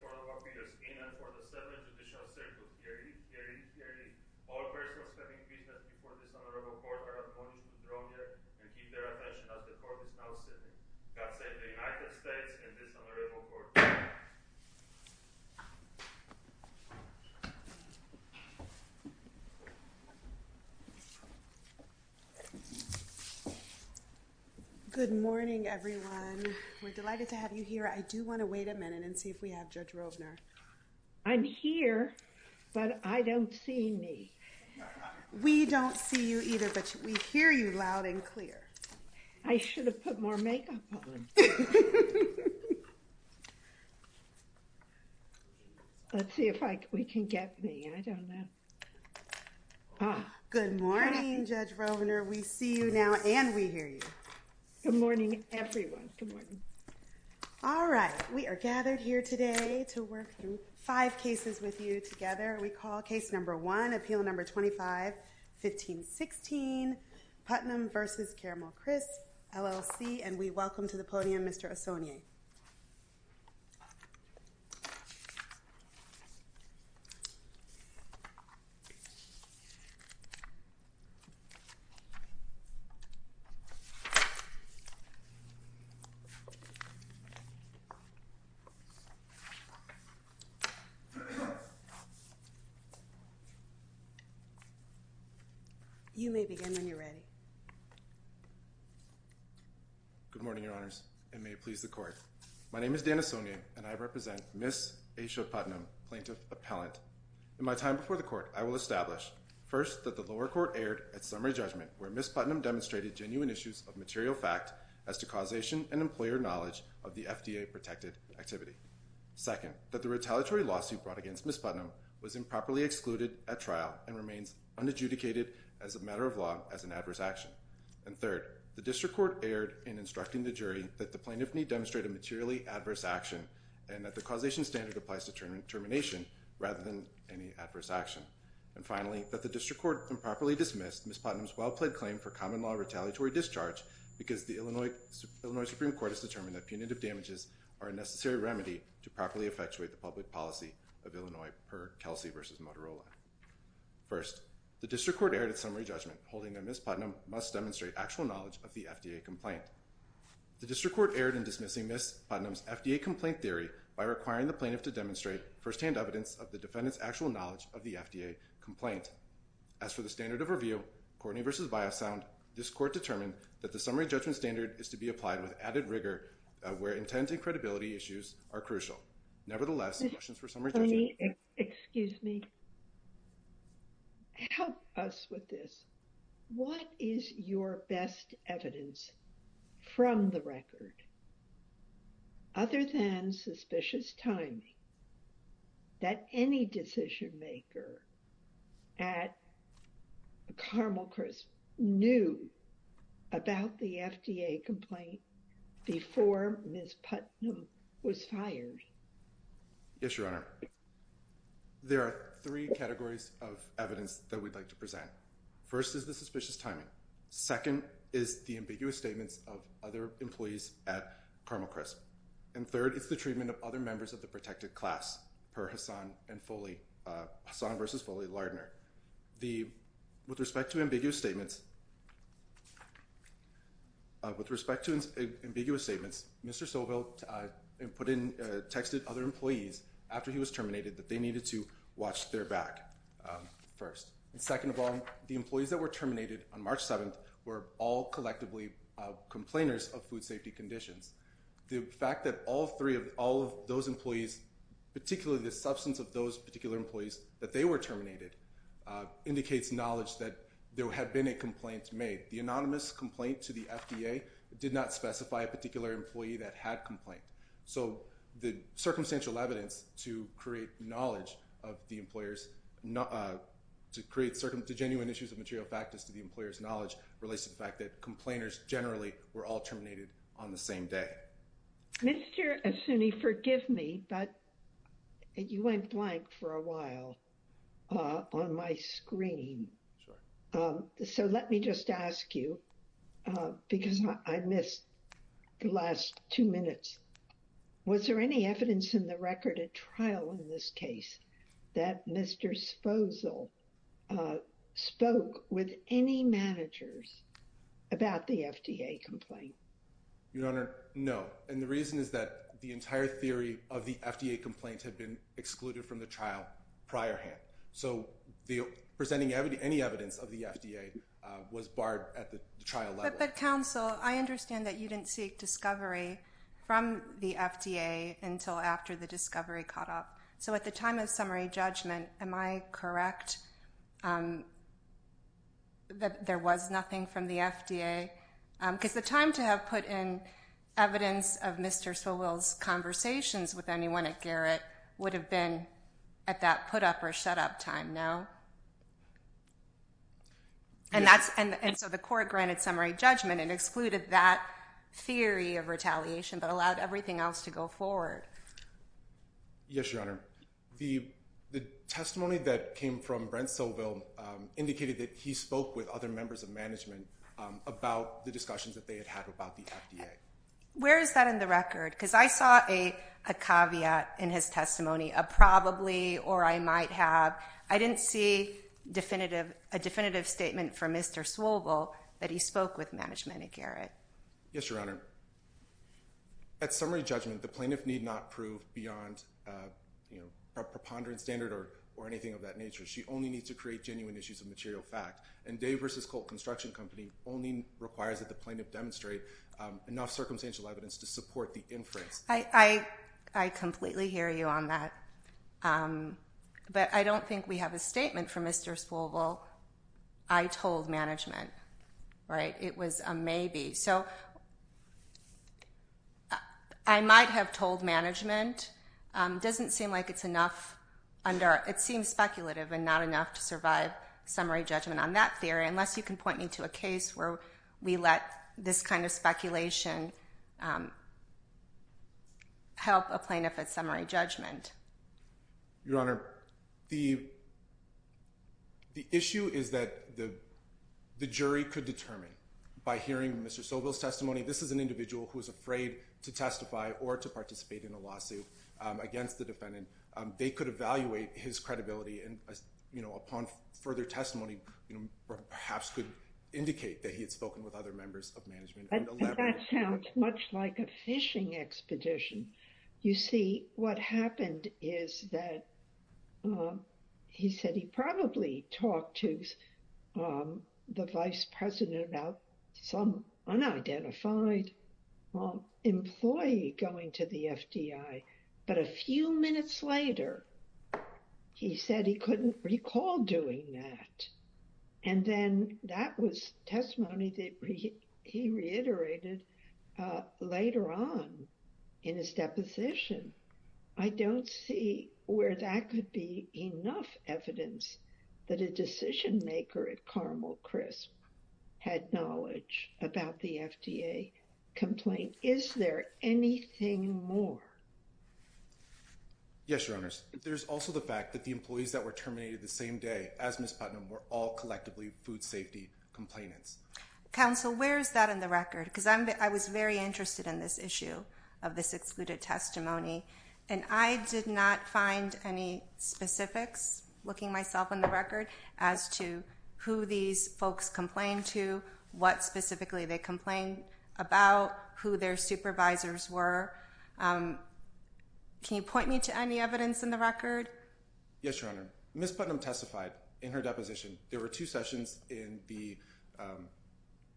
For the 7th Judicial Circle, herein, herein, herein, all persons having business before this Honorable Court are appointed to draw near and keep their attention as the Court is now sitting. God save the United States and this Honorable Court. I'm here, but I don't see me. We don't see you either, but we hear you loud and clear. I should have put more makeup on. Let's see if we can get me. I don't know. Good morning, Judge Rovner. We see you now and we hear you. Good morning, everyone. Good morning. All right, we are gathered here today to work through five cases with you together. We call case number one, appeal number 25-15-16 Putnam v. Caramelcrisp, LLC, and we welcome to the podium Mr. Ossoni. You may begin when you're ready. Good morning, Your Honors, and may it please the Court. My name is Dan Ossoni, and I represent Ms. Aisha Putnam, Plaintiff Appellant. In my time before the Court, I will establish, first, that the lower court erred at summary judgment where Ms. Putnam demonstrated genuine issues of material fact as to causation and employer knowledge of the FDA-protected activity. Second, that the retaliatory lawsuit brought against Ms. Putnam was improperly excluded at trial and remains unadjudicated as a matter of law as an adverse action. And third, the district court erred in instructing the jury that the plaintiff may demonstrate a materially adverse action and that the causation standard applies to termination rather than any adverse action. And finally, that the district court improperly dismissed Ms. Putnam's well-played claim for common law retaliatory discharge because the Illinois Supreme Court has determined that punitive damages are a necessary remedy to properly effectuate the public policy of Illinois per Kelsey v. Motorola. First, the district court erred at summary judgment, holding that Ms. Putnam must demonstrate actual knowledge of the FDA complaint. The district court erred in dismissing Ms. Putnam's FDA complaint theory by requiring the plaintiff to demonstrate firsthand evidence of the defendant's actual knowledge of the FDA complaint. As for the standard of review, Courtney v. Biosound, this Court determined that the summary judgment standard is to be applied with added rigor where intent and credibility issues are crucial. Nevertheless, questions for summary judgment. Excuse me. Help us with this. What is your best evidence from the record, other than suspicious timing, that any decision maker at Carmel Crisp knew about the FDA complaint before Ms. Putnam was fired? Yes, Your Honor. There are three categories of evidence that we'd like to present. First is the suspicious timing. Second is the ambiguous statements of other employees at Carmel Crisp. And third is the treatment of other members of the protected class per Hassan v. Foley Lardner. With respect to ambiguous statements, Mr. Sobel texted other employees after he was terminated that they needed to watch their back first. Second of all, the employees that were terminated on March 7th were all collectively complainers of food safety conditions. The fact that all three of all of those employees, particularly the substance of those particular employees that they were terminated, indicates knowledge that there had been a complaint made. The anonymous complaint to the FDA did not specify a particular employee that had complained. So the circumstantial evidence to create knowledge of the employers, to create genuine issues of material factors to the employer's knowledge, relates to the fact that complainers generally were all terminated on the same day. Mr. Assouni, forgive me, but you went blank for a while on my screen. So let me just ask you, because I missed the last two minutes. Was there any evidence in the record at trial in this case that Mr. Sposal spoke with any managers about the FDA complaint? Your Honor, no. And the reason is that the entire theory of the FDA complaint had been excluded from the trial prior hand. So presenting any evidence of the FDA was barred at the trial level. But counsel, I understand that you didn't seek discovery from the FDA until after the discovery caught up. So at the time of summary judgment, am I correct that there was nothing from the FDA? Because the time to have put in evidence of Mr. Sobel's conversations with anyone at Garrett would have been at that put up or shut up time, no? And so the court granted summary judgment and excluded that theory of retaliation, but allowed everything else to go forward. Yes, Your Honor. The testimony that came from Brent Sobel indicated that he spoke with other members of management about the discussions that they had had about the FDA. Where is that in the record? Because I saw a caveat in his testimony, a probably or I might have. I didn't see a definitive statement from Mr. Sobel that he spoke with management at Garrett. Yes, Your Honor. At summary judgment, the plaintiff need not prove beyond a preponderance standard or anything of that nature. She only needs to create genuine issues of material fact. And Dave versus Colt Construction Company only requires that the plaintiff demonstrate enough circumstantial evidence to support the inference. I completely hear you on that. But I don't think we have a statement from Mr. Sobel. I told management, right? It was a maybe. I might have told management doesn't seem like it's enough under. It seems speculative and not enough to survive summary judgment on that theory, unless you can point me to a case where we let this kind of speculation. Help a plaintiff at summary judgment. Your Honor, the. The issue is that the jury could determine by hearing Mr. Sobel's testimony, this is an individual who is afraid to testify or to participate in a lawsuit against the defendant. They could evaluate his credibility and upon further testimony, perhaps could indicate that he had spoken with other members of management. That sounds much like a fishing expedition. You see, what happened is that he said he probably talked to the vice president about some unidentified employee going to the FDI. But a few minutes later, he said he couldn't recall doing that. And then that was testimony that he reiterated later on in his deposition. I don't see where that could be enough evidence that a decision maker at Carmel Crisp had knowledge about the FDA complaint. Is there anything more? Yes, Your Honors. There's also the fact that the employees that were terminated the same day as Ms. Putnam were all collectively food safety complainants. Counsel, where is that in the record? Because I was very interested in this issue of this excluded testimony. And I did not find any specifics, looking myself in the record, as to who these folks complained to, what specifically they complained about, who their supervisors were. Can you point me to any evidence in the record? Yes, Your Honor. Ms. Putnam testified in her deposition. There were two sessions in the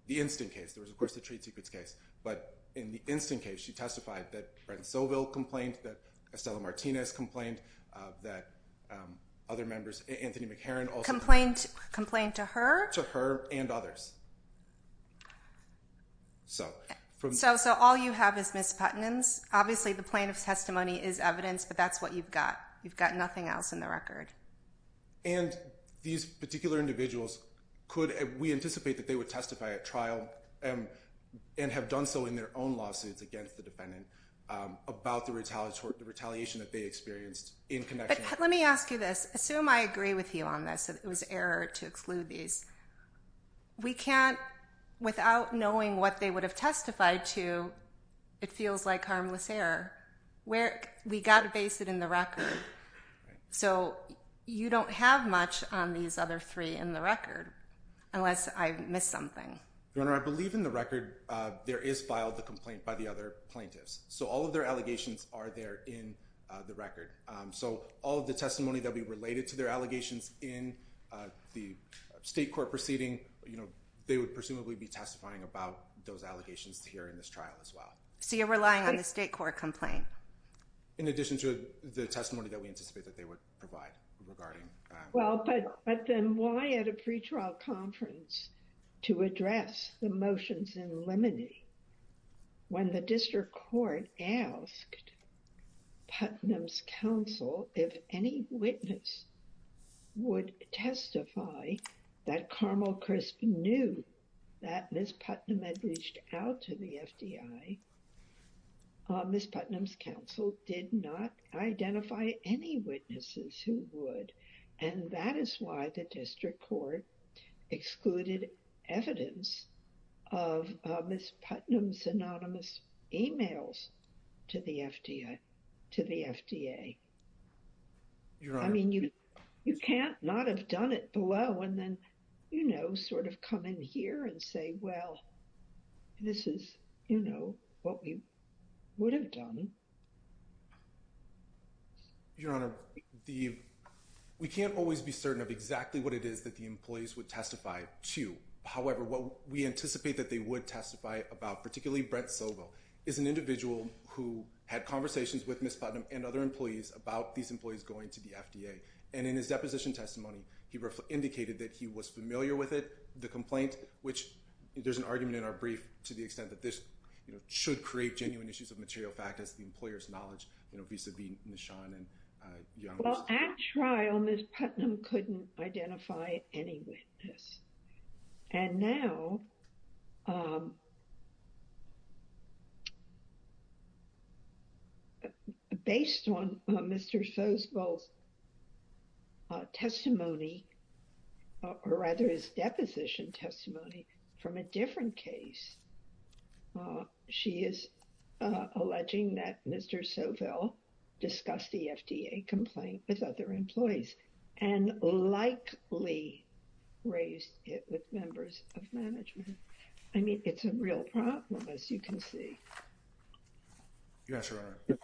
instant case. There was, of course, the trade secrets case. But in the instant case, she testified that Brent Soville complained, that Estella Martinez complained, that other members, Anthony McHeron also complained. Complained to her? To her and others. So all you have is Ms. Putnam's. Obviously, the plaintiff's testimony is evidence, but that's what you've got. You've got nothing else in the record. And these particular individuals, we anticipate that they would testify at trial and have done so in their own lawsuits against the defendant about the retaliation that they experienced in connection. But let me ask you this. Assume I agree with you on this, that it was error to exclude these. We can't, without knowing what they would have testified to, it feels like harmless error. We've got to base it in the record. So you don't have much on these other three in the record, unless I've missed something. Your Honor, I believe in the record there is filed a complaint by the other plaintiffs. So all of their allegations are there in the record. So all of the testimony that would be related to their allegations in the state court proceeding, they would presumably be testifying about those allegations here in this trial as well. So you're relying on the state court complaint? In addition to the testimony that we anticipate that they would provide regarding- Well, but then why at a pretrial conference to address the motions in limine? When the district court asked Putnam's counsel if any witness would testify that Carmel Crisp knew that Ms. Putnam had reached out to the FDI, Ms. Putnam's counsel did not identify any witnesses who would. And that is why the district court excluded evidence of Ms. Putnam's anonymous emails to the FDA. I mean, you can't not have done it below and then, you know, sort of come in here and say, well, this is, you know, what we would have done. Your Honor, we can't always be certain of exactly what it is that the employees would testify to. However, what we anticipate that they would testify about, particularly Brent Sobo, is an individual who had conversations with Ms. Putnam and other employees about these employees going to the FDA. And in his deposition testimony, he indicated that he was familiar with it, the complaint, which there's an argument in our brief to the extent that this, you know, should create genuine issues of material fact as the employer's knowledge, you know, vis-a-vis Nishan and Young. Well, at trial, Ms. Putnam couldn't identify any witness. And now, based on Mr. Sobo's testimony, or rather his deposition testimony from a different case, she is alleging that Mr. Sobo discussed the FDA complaint with other employees. And likely raised it with members of management. I mean, it's a real problem, as you can see. Your Honor,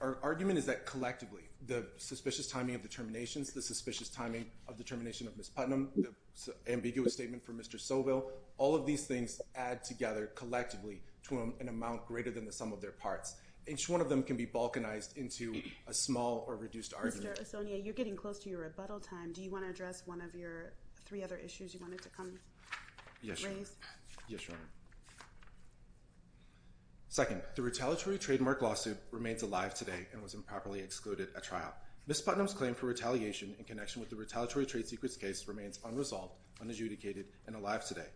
our argument is that collectively, the suspicious timing of the terminations, the suspicious timing of the termination of Ms. Putnam, the ambiguous statement from Mr. Sobo, all of these things add together collectively to an amount greater than the sum of their parts. Each one of them can be balkanized into a small or reduced argument. Mr. Esonwune, you're getting close to your rebuttal time. Do you want to address one of your three other issues you wanted to come raise? Yes, Your Honor. Second, the retaliatory trademark lawsuit remains alive today and was improperly excluded at trial. Ms. Putnam's claim for retaliation in connection with the retaliatory trade secrets case remains unresolved, unadjudicated, and alive today.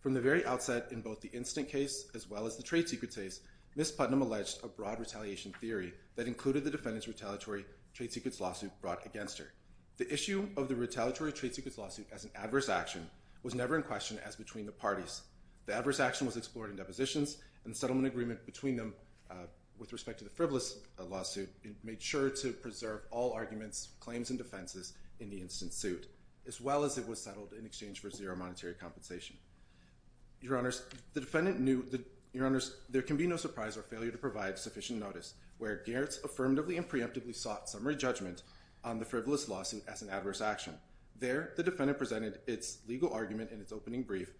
From the very outset, in both the instant case as well as the trade secret case, Ms. Putnam alleged a broad retaliation theory that included the defendant's retaliatory trade secrets lawsuit brought against her. The issue of the retaliatory trade secrets lawsuit as an adverse action was never in question as between the parties. The adverse action was explored in depositions, and the settlement agreement between them with respect to the frivolous lawsuit made sure to preserve all arguments, claims, and defenses in the instant suit, as well as it was settled in exchange for zero monetary compensation. Your Honors, the defendant knew that there can be no surprise or failure to provide sufficient notice where Gerritz affirmatively and preemptively sought summary judgment on the frivolous lawsuit as an adverse action. There, the defendant presented its legal argument in its opening brief,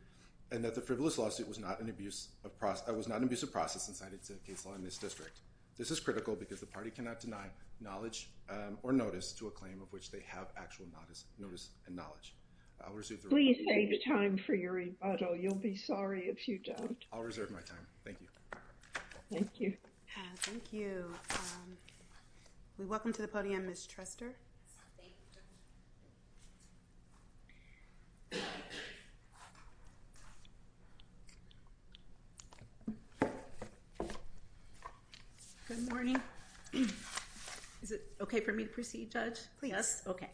and that the frivolous lawsuit was not an abusive process incited to case law in this district. This is critical because the party cannot deny knowledge or notice to a claim of which they have actual notice and knowledge. I'll reserve my time. Please save time for your rebuttal. You'll be sorry if you don't. I'll reserve my time. Thank you. Thank you. Thank you. We welcome to the podium Ms. Truster. Thank you. Good morning. Is it OK for me to proceed, Judge? Yes. OK.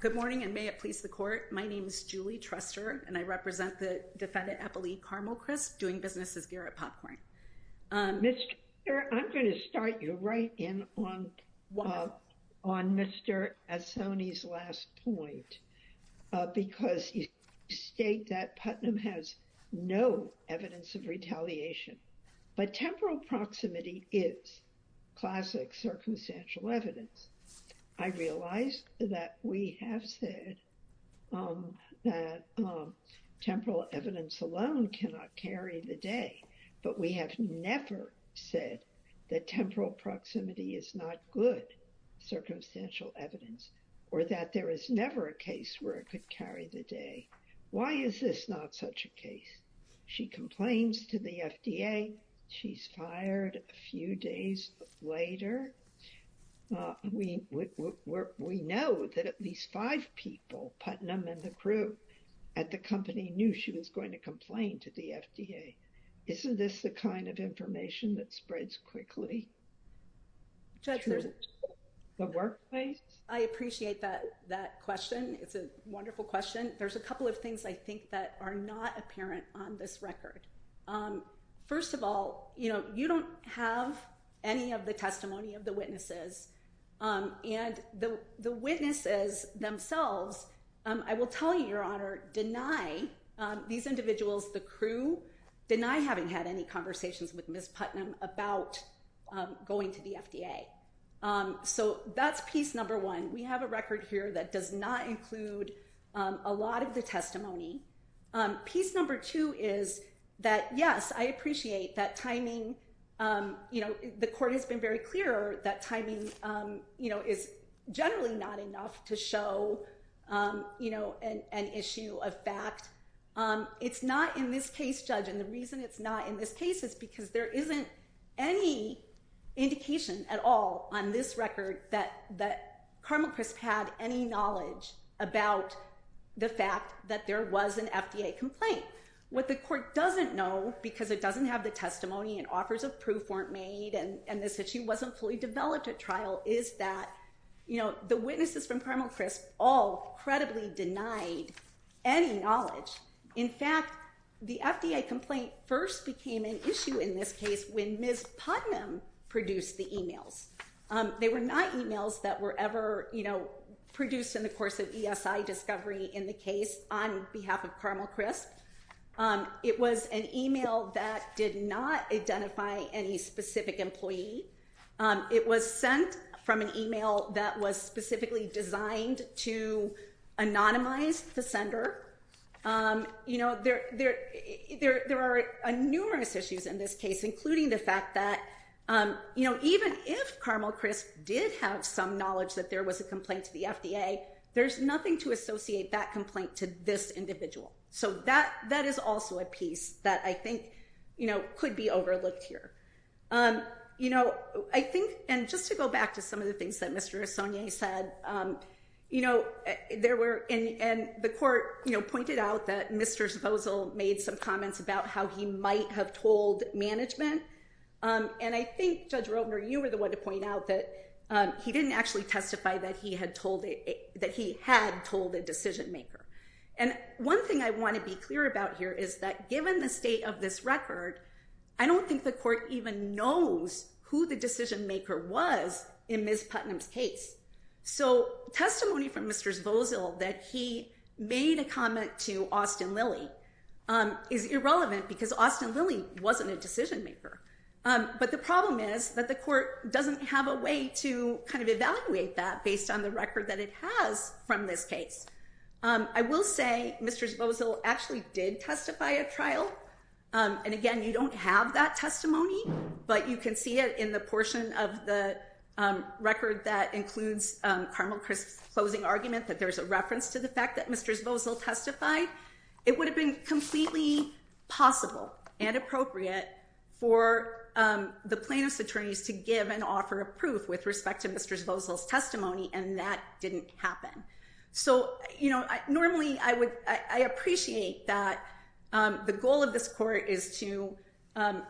Good morning, and may it please the court. My name is Julie Truster, and I represent the defendant Eppley Carmel Crisp, doing business as Gerrit Popcorn. Mr. I'm going to start you right in on Mr. Assoni's last point, because you state that Putnam has no evidence of retaliation, but temporal proximity is classic circumstantial evidence. I realize that we have said that temporal evidence alone cannot carry the day, but we have never said that temporal proximity is not good circumstantial evidence or that there is never a case where it could carry the day. Why is this not such a case? She complains to the FDA. She's fired a few days later. We know that at least five people, Putnam and the crew at the company, knew she was going to complain to the FDA. Isn't this the kind of information that spreads quickly to the workplace? I appreciate that question. It's a wonderful question. There's a couple of things I think that are not apparent on this record. First of all, you know, you don't have any of the testimony of the witnesses and the witnesses themselves. I will tell you, Your Honor, deny these individuals, the crew, deny having had any conversations with Miss Putnam about going to the FDA. So that's piece number one. We have a record here that does not include a lot of the testimony. Piece number two is that, yes, I appreciate that timing. You know, the court has been very clear that timing, you know, is generally not enough to show, you know, an issue of fact. It's not in this case, Judge, and the reason it's not in this case is because there isn't any indication at all on this record that Carmel Crisp had any knowledge about the fact that there was an FDA complaint. What the court doesn't know, because it doesn't have the testimony and offers of proof weren't made and this issue wasn't fully developed at trial, is that, you know, the witnesses from Carmel Crisp all credibly denied any knowledge. In fact, the FDA complaint first became an issue in this case when Miss Putnam produced the emails. They were not emails that were ever, you know, produced in the course of ESI discovery in the case on behalf of Carmel Crisp. It was an email that did not identify any specific employee. It was sent from an email that was specifically designed to anonymize the sender. You know, there are numerous issues in this case, including the fact that, you know, even if Carmel Crisp did have some knowledge that there was a complaint to the FDA, there's nothing to associate that complaint to this individual. So that is also a piece that I think, you know, could be overlooked here. You know, I think, and just to go back to some of the things that Mr. Esonwune said, you know, there were, and the court, you know, pointed out that Mr. Sposal made some comments about how he might have told management. And I think, Judge Roebner, you were the one to point out that he didn't actually testify that he had told, that he had told the decision maker. And one thing I want to be clear about here is that given the state of this record, I don't think the court even knows who the decision maker was in Ms. Putnam's case. So testimony from Mr. Sposal that he made a comment to Austin Lilly is irrelevant because Austin Lilly wasn't a decision maker. But the problem is that the court doesn't have a way to kind of evaluate that based on the record that it has from this case. I will say Mr. Sposal actually did testify at trial. And again, you don't have that testimony, but you can see it in the portion of the record that includes Carmel Crisp's closing argument that there's a reference to the fact that Mr. Sposal testified. It would have been completely possible and appropriate for the plaintiff's attorneys to give and offer a proof with respect to Mr. Sposal's testimony, and that didn't happen. So, you know, normally I would, I appreciate that the goal of this court is to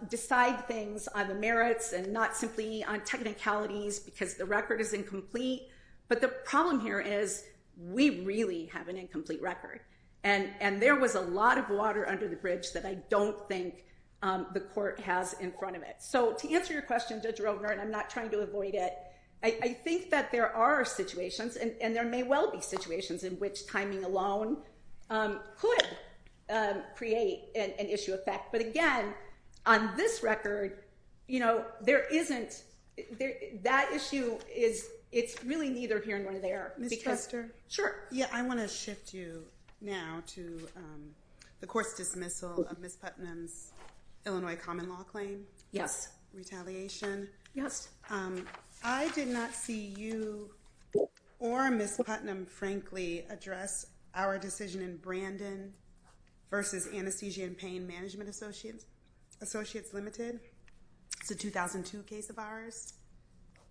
decide things on the merits and not simply on technicalities because the record is incomplete. But the problem here is we really have an incomplete record. And there was a lot of water under the bridge that I don't think the court has in front of it. So to answer your question, Judge Rovner, and I'm not trying to avoid it, I think that there are situations, and there may well be situations in which timing alone could create an issue of fact. But again, on this record, you know, there isn't, that issue is, it's really neither here nor there. Ms. Tester? Sure. Yeah, I want to shift you now to the court's dismissal of Ms. Putnam's Illinois common law claim. Yes. Retaliation. Yes. I did not see you or Ms. Putnam, frankly, address our decision in Brandon versus Anesthesia and Pain Management Associates Limited. It's a 2002 case of ours.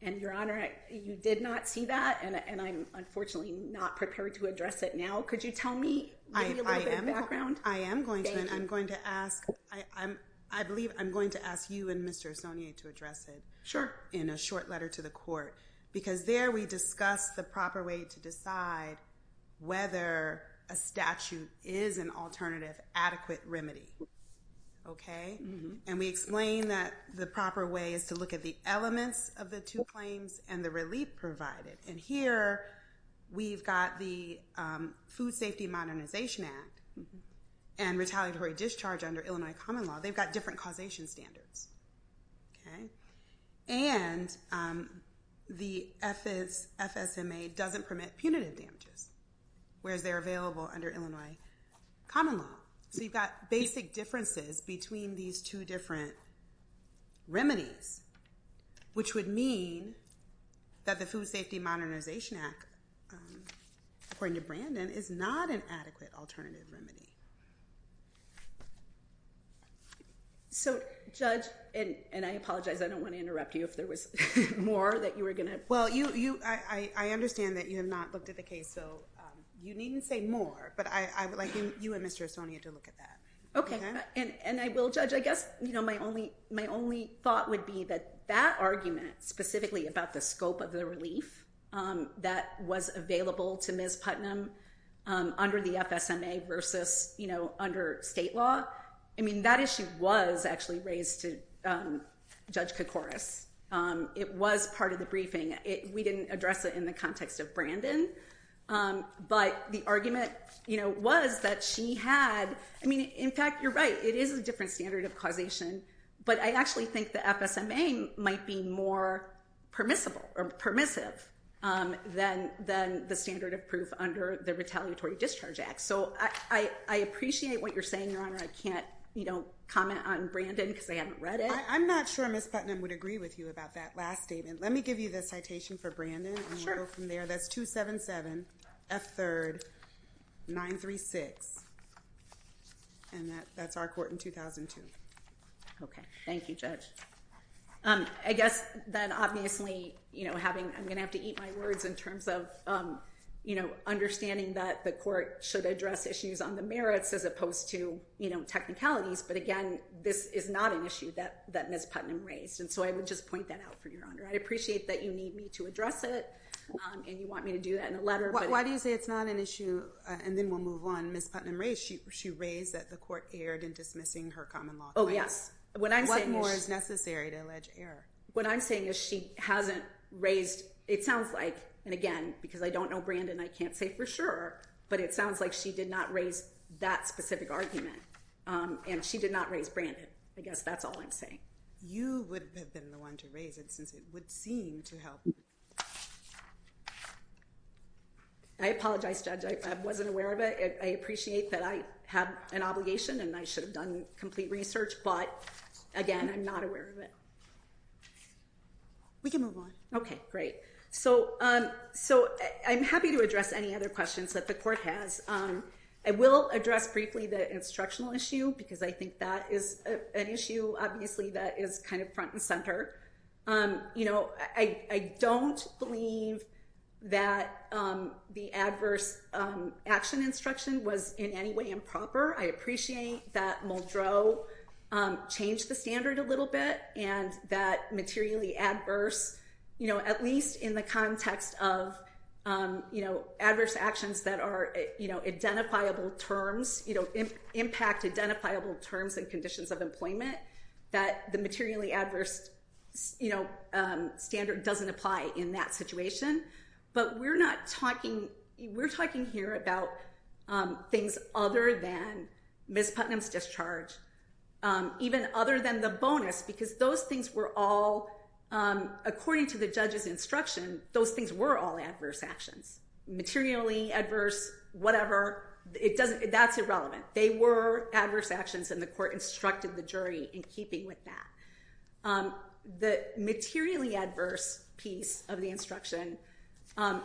And, Your Honor, you did not see that, and I'm unfortunately not prepared to address it now. Could you tell me, maybe a little bit of background? I am going to, and I'm going to ask, I believe I'm going to ask you and Mr. Esonwune to address it. Sure. In a short letter to the court. Because there we discuss the proper way to decide whether a statute is an alternative adequate remedy. Okay? And we explain that the proper way is to look at the elements of the two claims and the relief provided. And here we've got the Food Safety Modernization Act and retaliatory discharge under Illinois common law. They've got different causation standards. Okay? And the FSMA doesn't permit punitive damages, whereas they're available under Illinois common law. So you've got basic differences between these two different remedies, which would mean that the Food Safety Modernization Act, according to Brandon, is not an adequate alternative remedy. So, Judge, and I apologize, I don't want to interrupt you if there was more that you were going to. Well, I understand that you have not looked at the case, so you needn't say more. But I would like you and Mr. Esonwune to look at that. Okay. And I will, Judge. I guess, you know, my only thought would be that that argument, specifically about the scope of the relief that was available to Ms. Putnam under the FSMA versus, you know, under state law. I mean, that issue was actually raised to Judge Kokoris. It was part of the briefing. We didn't address it in the context of Brandon. But the argument, you know, was that she had, I mean, in fact, you're right, it is a different standard of causation. But I actually think the FSMA might be more permissible or permissive than the standard of proof under the Retaliatory Discharge Act. So I appreciate what you're saying, Your Honor. I can't, you know, comment on Brandon because I haven't read it. I'm not sure Ms. Putnam would agree with you about that last statement. Let me give you the citation for Brandon. Sure. That's 277 F3rd 936. And that's our court in 2002. Okay. Thank you, Judge. I guess that obviously, you know, having, I'm going to have to eat my words in terms of, you know, understanding that the court should address issues on the merits as opposed to, you know, technicalities. But again, this is not an issue that Ms. Putnam raised. And so I would just point that out for you, Your Honor. I appreciate that you need me to address it. And you want me to do that in a letter. Why do you say it's not an issue? And then we'll move on. Ms. Putnam raised, she raised that the court erred in dismissing her common law claims. Oh, yes. What more is necessary to allege error? What I'm saying is she hasn't raised, it sounds like, and again, because I don't know Brandon, I can't say for sure. But it sounds like she did not raise that specific argument. And she did not raise Brandon. I guess that's all I'm saying. You would have been the one to raise it since it would seem to help. I apologize, Judge. I wasn't aware of it. I appreciate that I have an obligation and I should have done complete research. But again, I'm not aware of it. We can move on. Okay, great. So I'm happy to address any other questions that the court has. I will address briefly the instructional issue because I think that is an issue, obviously, that is kind of front and center. You know, I don't believe that the adverse action instruction was in any way improper. I appreciate that Muldrow changed the standard a little bit and that materially adverse, you know, at least in the context of, you know, adverse actions that are, you know, identifiable terms, you know, impact identifiable terms and conditions of employment, that the materially adverse, you know, standard doesn't apply in that situation. But we're not talking, we're talking here about things other than Ms. Putnam's discharge, even other than the bonus because those things were all, according to the judge's instruction, those things were all adverse actions. Materially adverse, whatever, it doesn't, that's irrelevant. They were adverse actions and the court instructed the jury in keeping with that. The materially adverse piece of the instruction,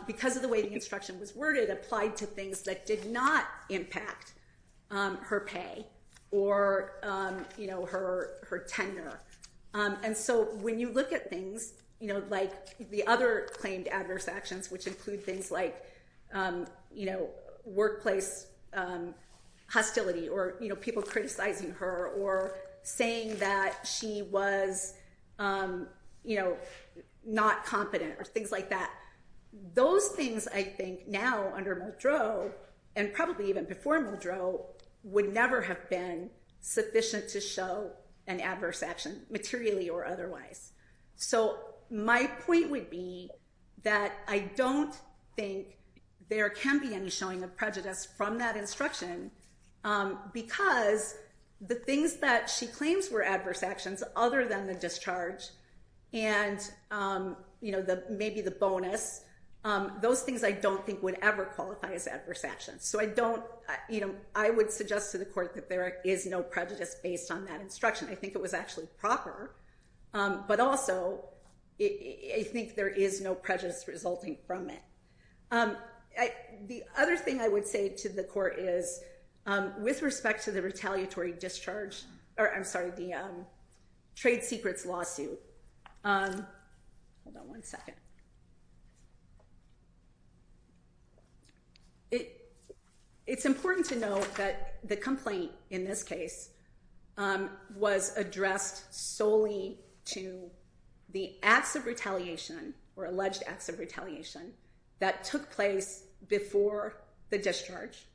because of the way the instruction was worded, applied to things that did not impact her pay or, you know, her tender. And so when you look at things, you know, like the other claimed adverse actions, which include things like, you know, workplace hostility or, you know, people criticizing her or saying that she was, you know, not competent or things like that. Those things, I think, now under Muldrow, and probably even before Muldrow, would never have been sufficient to show an adverse action materially or otherwise. So my point would be that I don't think there can be any showing of prejudice from that instruction because the things that she claims were adverse actions other than the discharge and, you know, maybe the bonus, those things I don't think would ever qualify as adverse actions. So I don't, you know, I would suggest to the court that there is no prejudice based on that instruction. I think it was actually proper, but also I think there is no prejudice resulting from it. The other thing I would say to the court is with respect to the retaliatory discharge, or I'm sorry, the trade secrets lawsuit. Hold on one second. It's important to note that the complaint in this case was addressed solely to the acts of retaliation or alleged acts of retaliation that took place before the discharge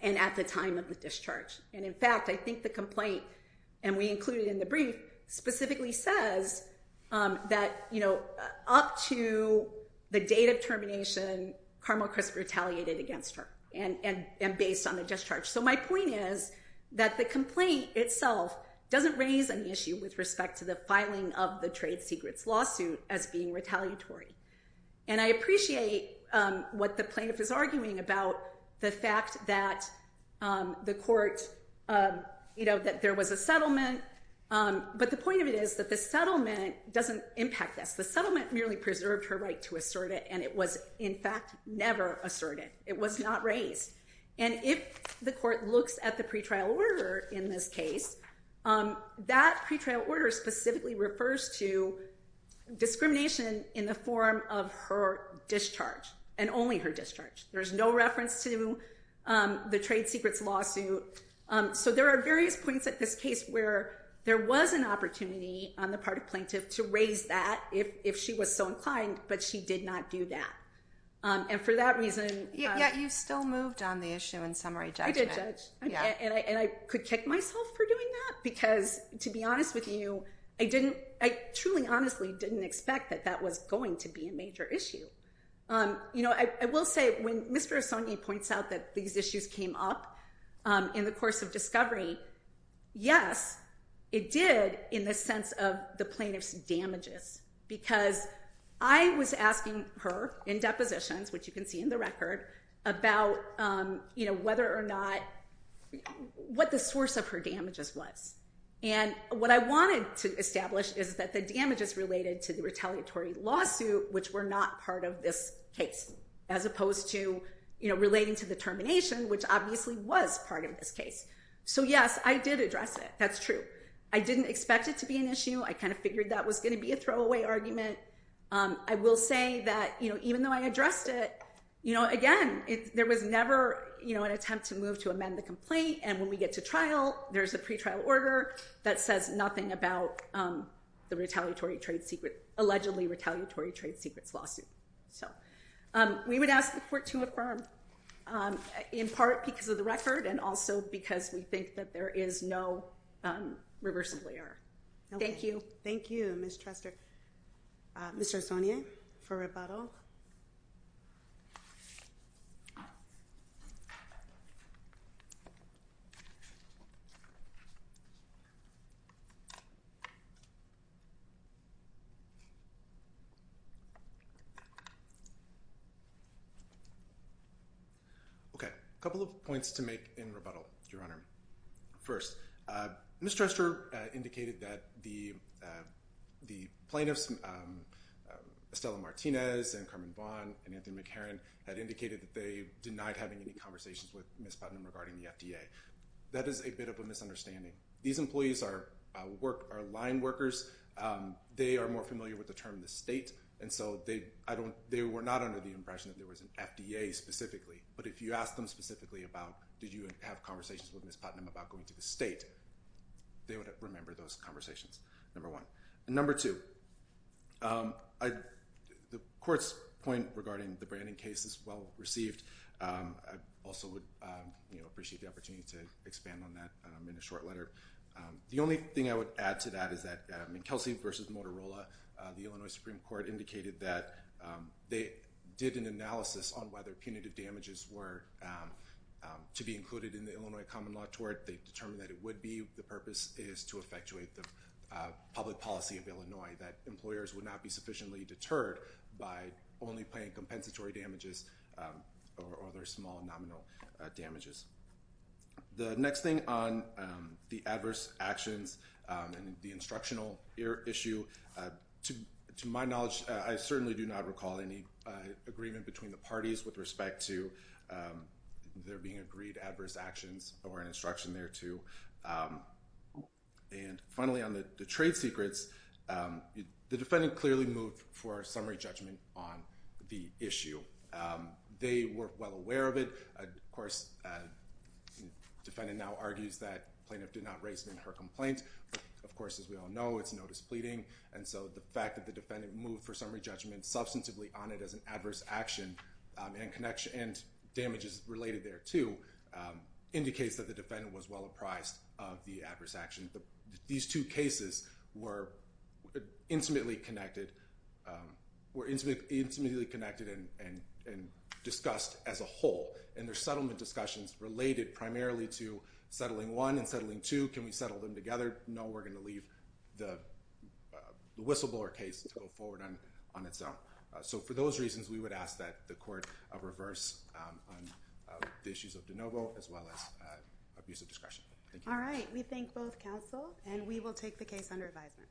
and at the time of the discharge. And in fact, I think the complaint, and we included in the brief, specifically says that, you know, up to the date of termination, Carmel Crisp retaliated against her and based on the discharge. So my point is that the complaint itself doesn't raise an issue with respect to the filing of the trade secrets lawsuit as being retaliatory. And I appreciate what the plaintiff is arguing about the fact that the court, you know, that there was a settlement. But the point of it is that the settlement doesn't impact this. The settlement merely preserved her right to assert it, and it was in fact never asserted. It was not raised. And if the court looks at the pretrial order in this case, that pretrial order specifically refers to discrimination in the form of her discharge and only her discharge. There's no reference to the trade secrets lawsuit. So there are various points at this case where there was an opportunity on the part of plaintiff to raise that if she was so inclined, but she did not do that. And for that reason... Yet you still moved on the issue in summary judgment. I did judge. And I could kick myself for doing that because to be honest with you, I didn't, I truly honestly didn't expect that that was going to be a major issue. You know, I will say when Mr. Assange points out that these issues came up in the course of discovery, yes, it did in the sense of the plaintiff's damages. Because I was asking her in depositions, which you can see in the record, about, you know, whether or not what the source of her damages was. And what I wanted to establish is that the damages related to the retaliatory lawsuit, which were not part of this case, as opposed to, you know, relating to the termination, which obviously was part of this case. So, yes, I did address it. That's true. I didn't expect it to be an issue. I kind of figured that was going to be a throwaway argument. I will say that, you know, even though I addressed it, you know, again, there was never, you know, an attempt to move to amend the complaint. And when we get to trial, there's a pretrial order that says nothing about the retaliatory trade secret, allegedly retaliatory trade secrets lawsuit. So we would ask the court to affirm, in part because of the record and also because we think that there is no reversible error. Thank you. Thank you, Ms. Trestor. Mr. Sonnier, for rebuttal. Okay. A couple of points to make in rebuttal, Your Honor. First, Ms. Trestor indicated that the plaintiffs, Estella Martinez and Carmen Vaughn and Anthony McCarran, had indicated that they denied having any conversations with Ms. Putnam regarding the FDA. That is a bit of a misunderstanding. These employees are line workers. They are more familiar with the term the state, and so they were not under the impression that there was an FDA specifically. But if you ask them specifically about did you have conversations with Ms. Putnam about going to the state, they would remember those conversations, number one. And number two, the court's point regarding the branding case is well received. I also would, you know, appreciate the opportunity to expand on that in a short letter. The only thing I would add to that is that in Kelsey v. Motorola, the Illinois Supreme Court indicated that they did an analysis on whether punitive damages were to be included in the Illinois Common Law Tort. They determined that it would be. The purpose is to effectuate the public policy of Illinois, that employers would not be sufficiently deterred by only paying compensatory damages or other small nominal damages. The next thing on the adverse actions and the instructional issue, to my knowledge, I certainly do not recall any agreement between the parties with respect to their being agreed adverse actions or an instruction thereto. And finally, on the trade secrets, the defendant clearly moved for a summary judgment on the issue. They were well aware of it. Of course, the defendant now argues that the plaintiff did not raise it in her complaint. Of course, as we all know, it's no displeading. And so the fact that the defendant moved for summary judgment substantively on it as an adverse action and damages related there, too, indicates that the defendant was well apprised of the adverse action. These two cases were intimately connected and discussed as a whole. And their settlement discussions related primarily to settling one and settling two. Can we settle them together? No, we're going to leave the whistleblower case to go forward on its own. So for those reasons, we would ask that the court reverse the issues of de novo as well as abuse of discretion. All right. We thank both counsel, and we will take the case under advisement.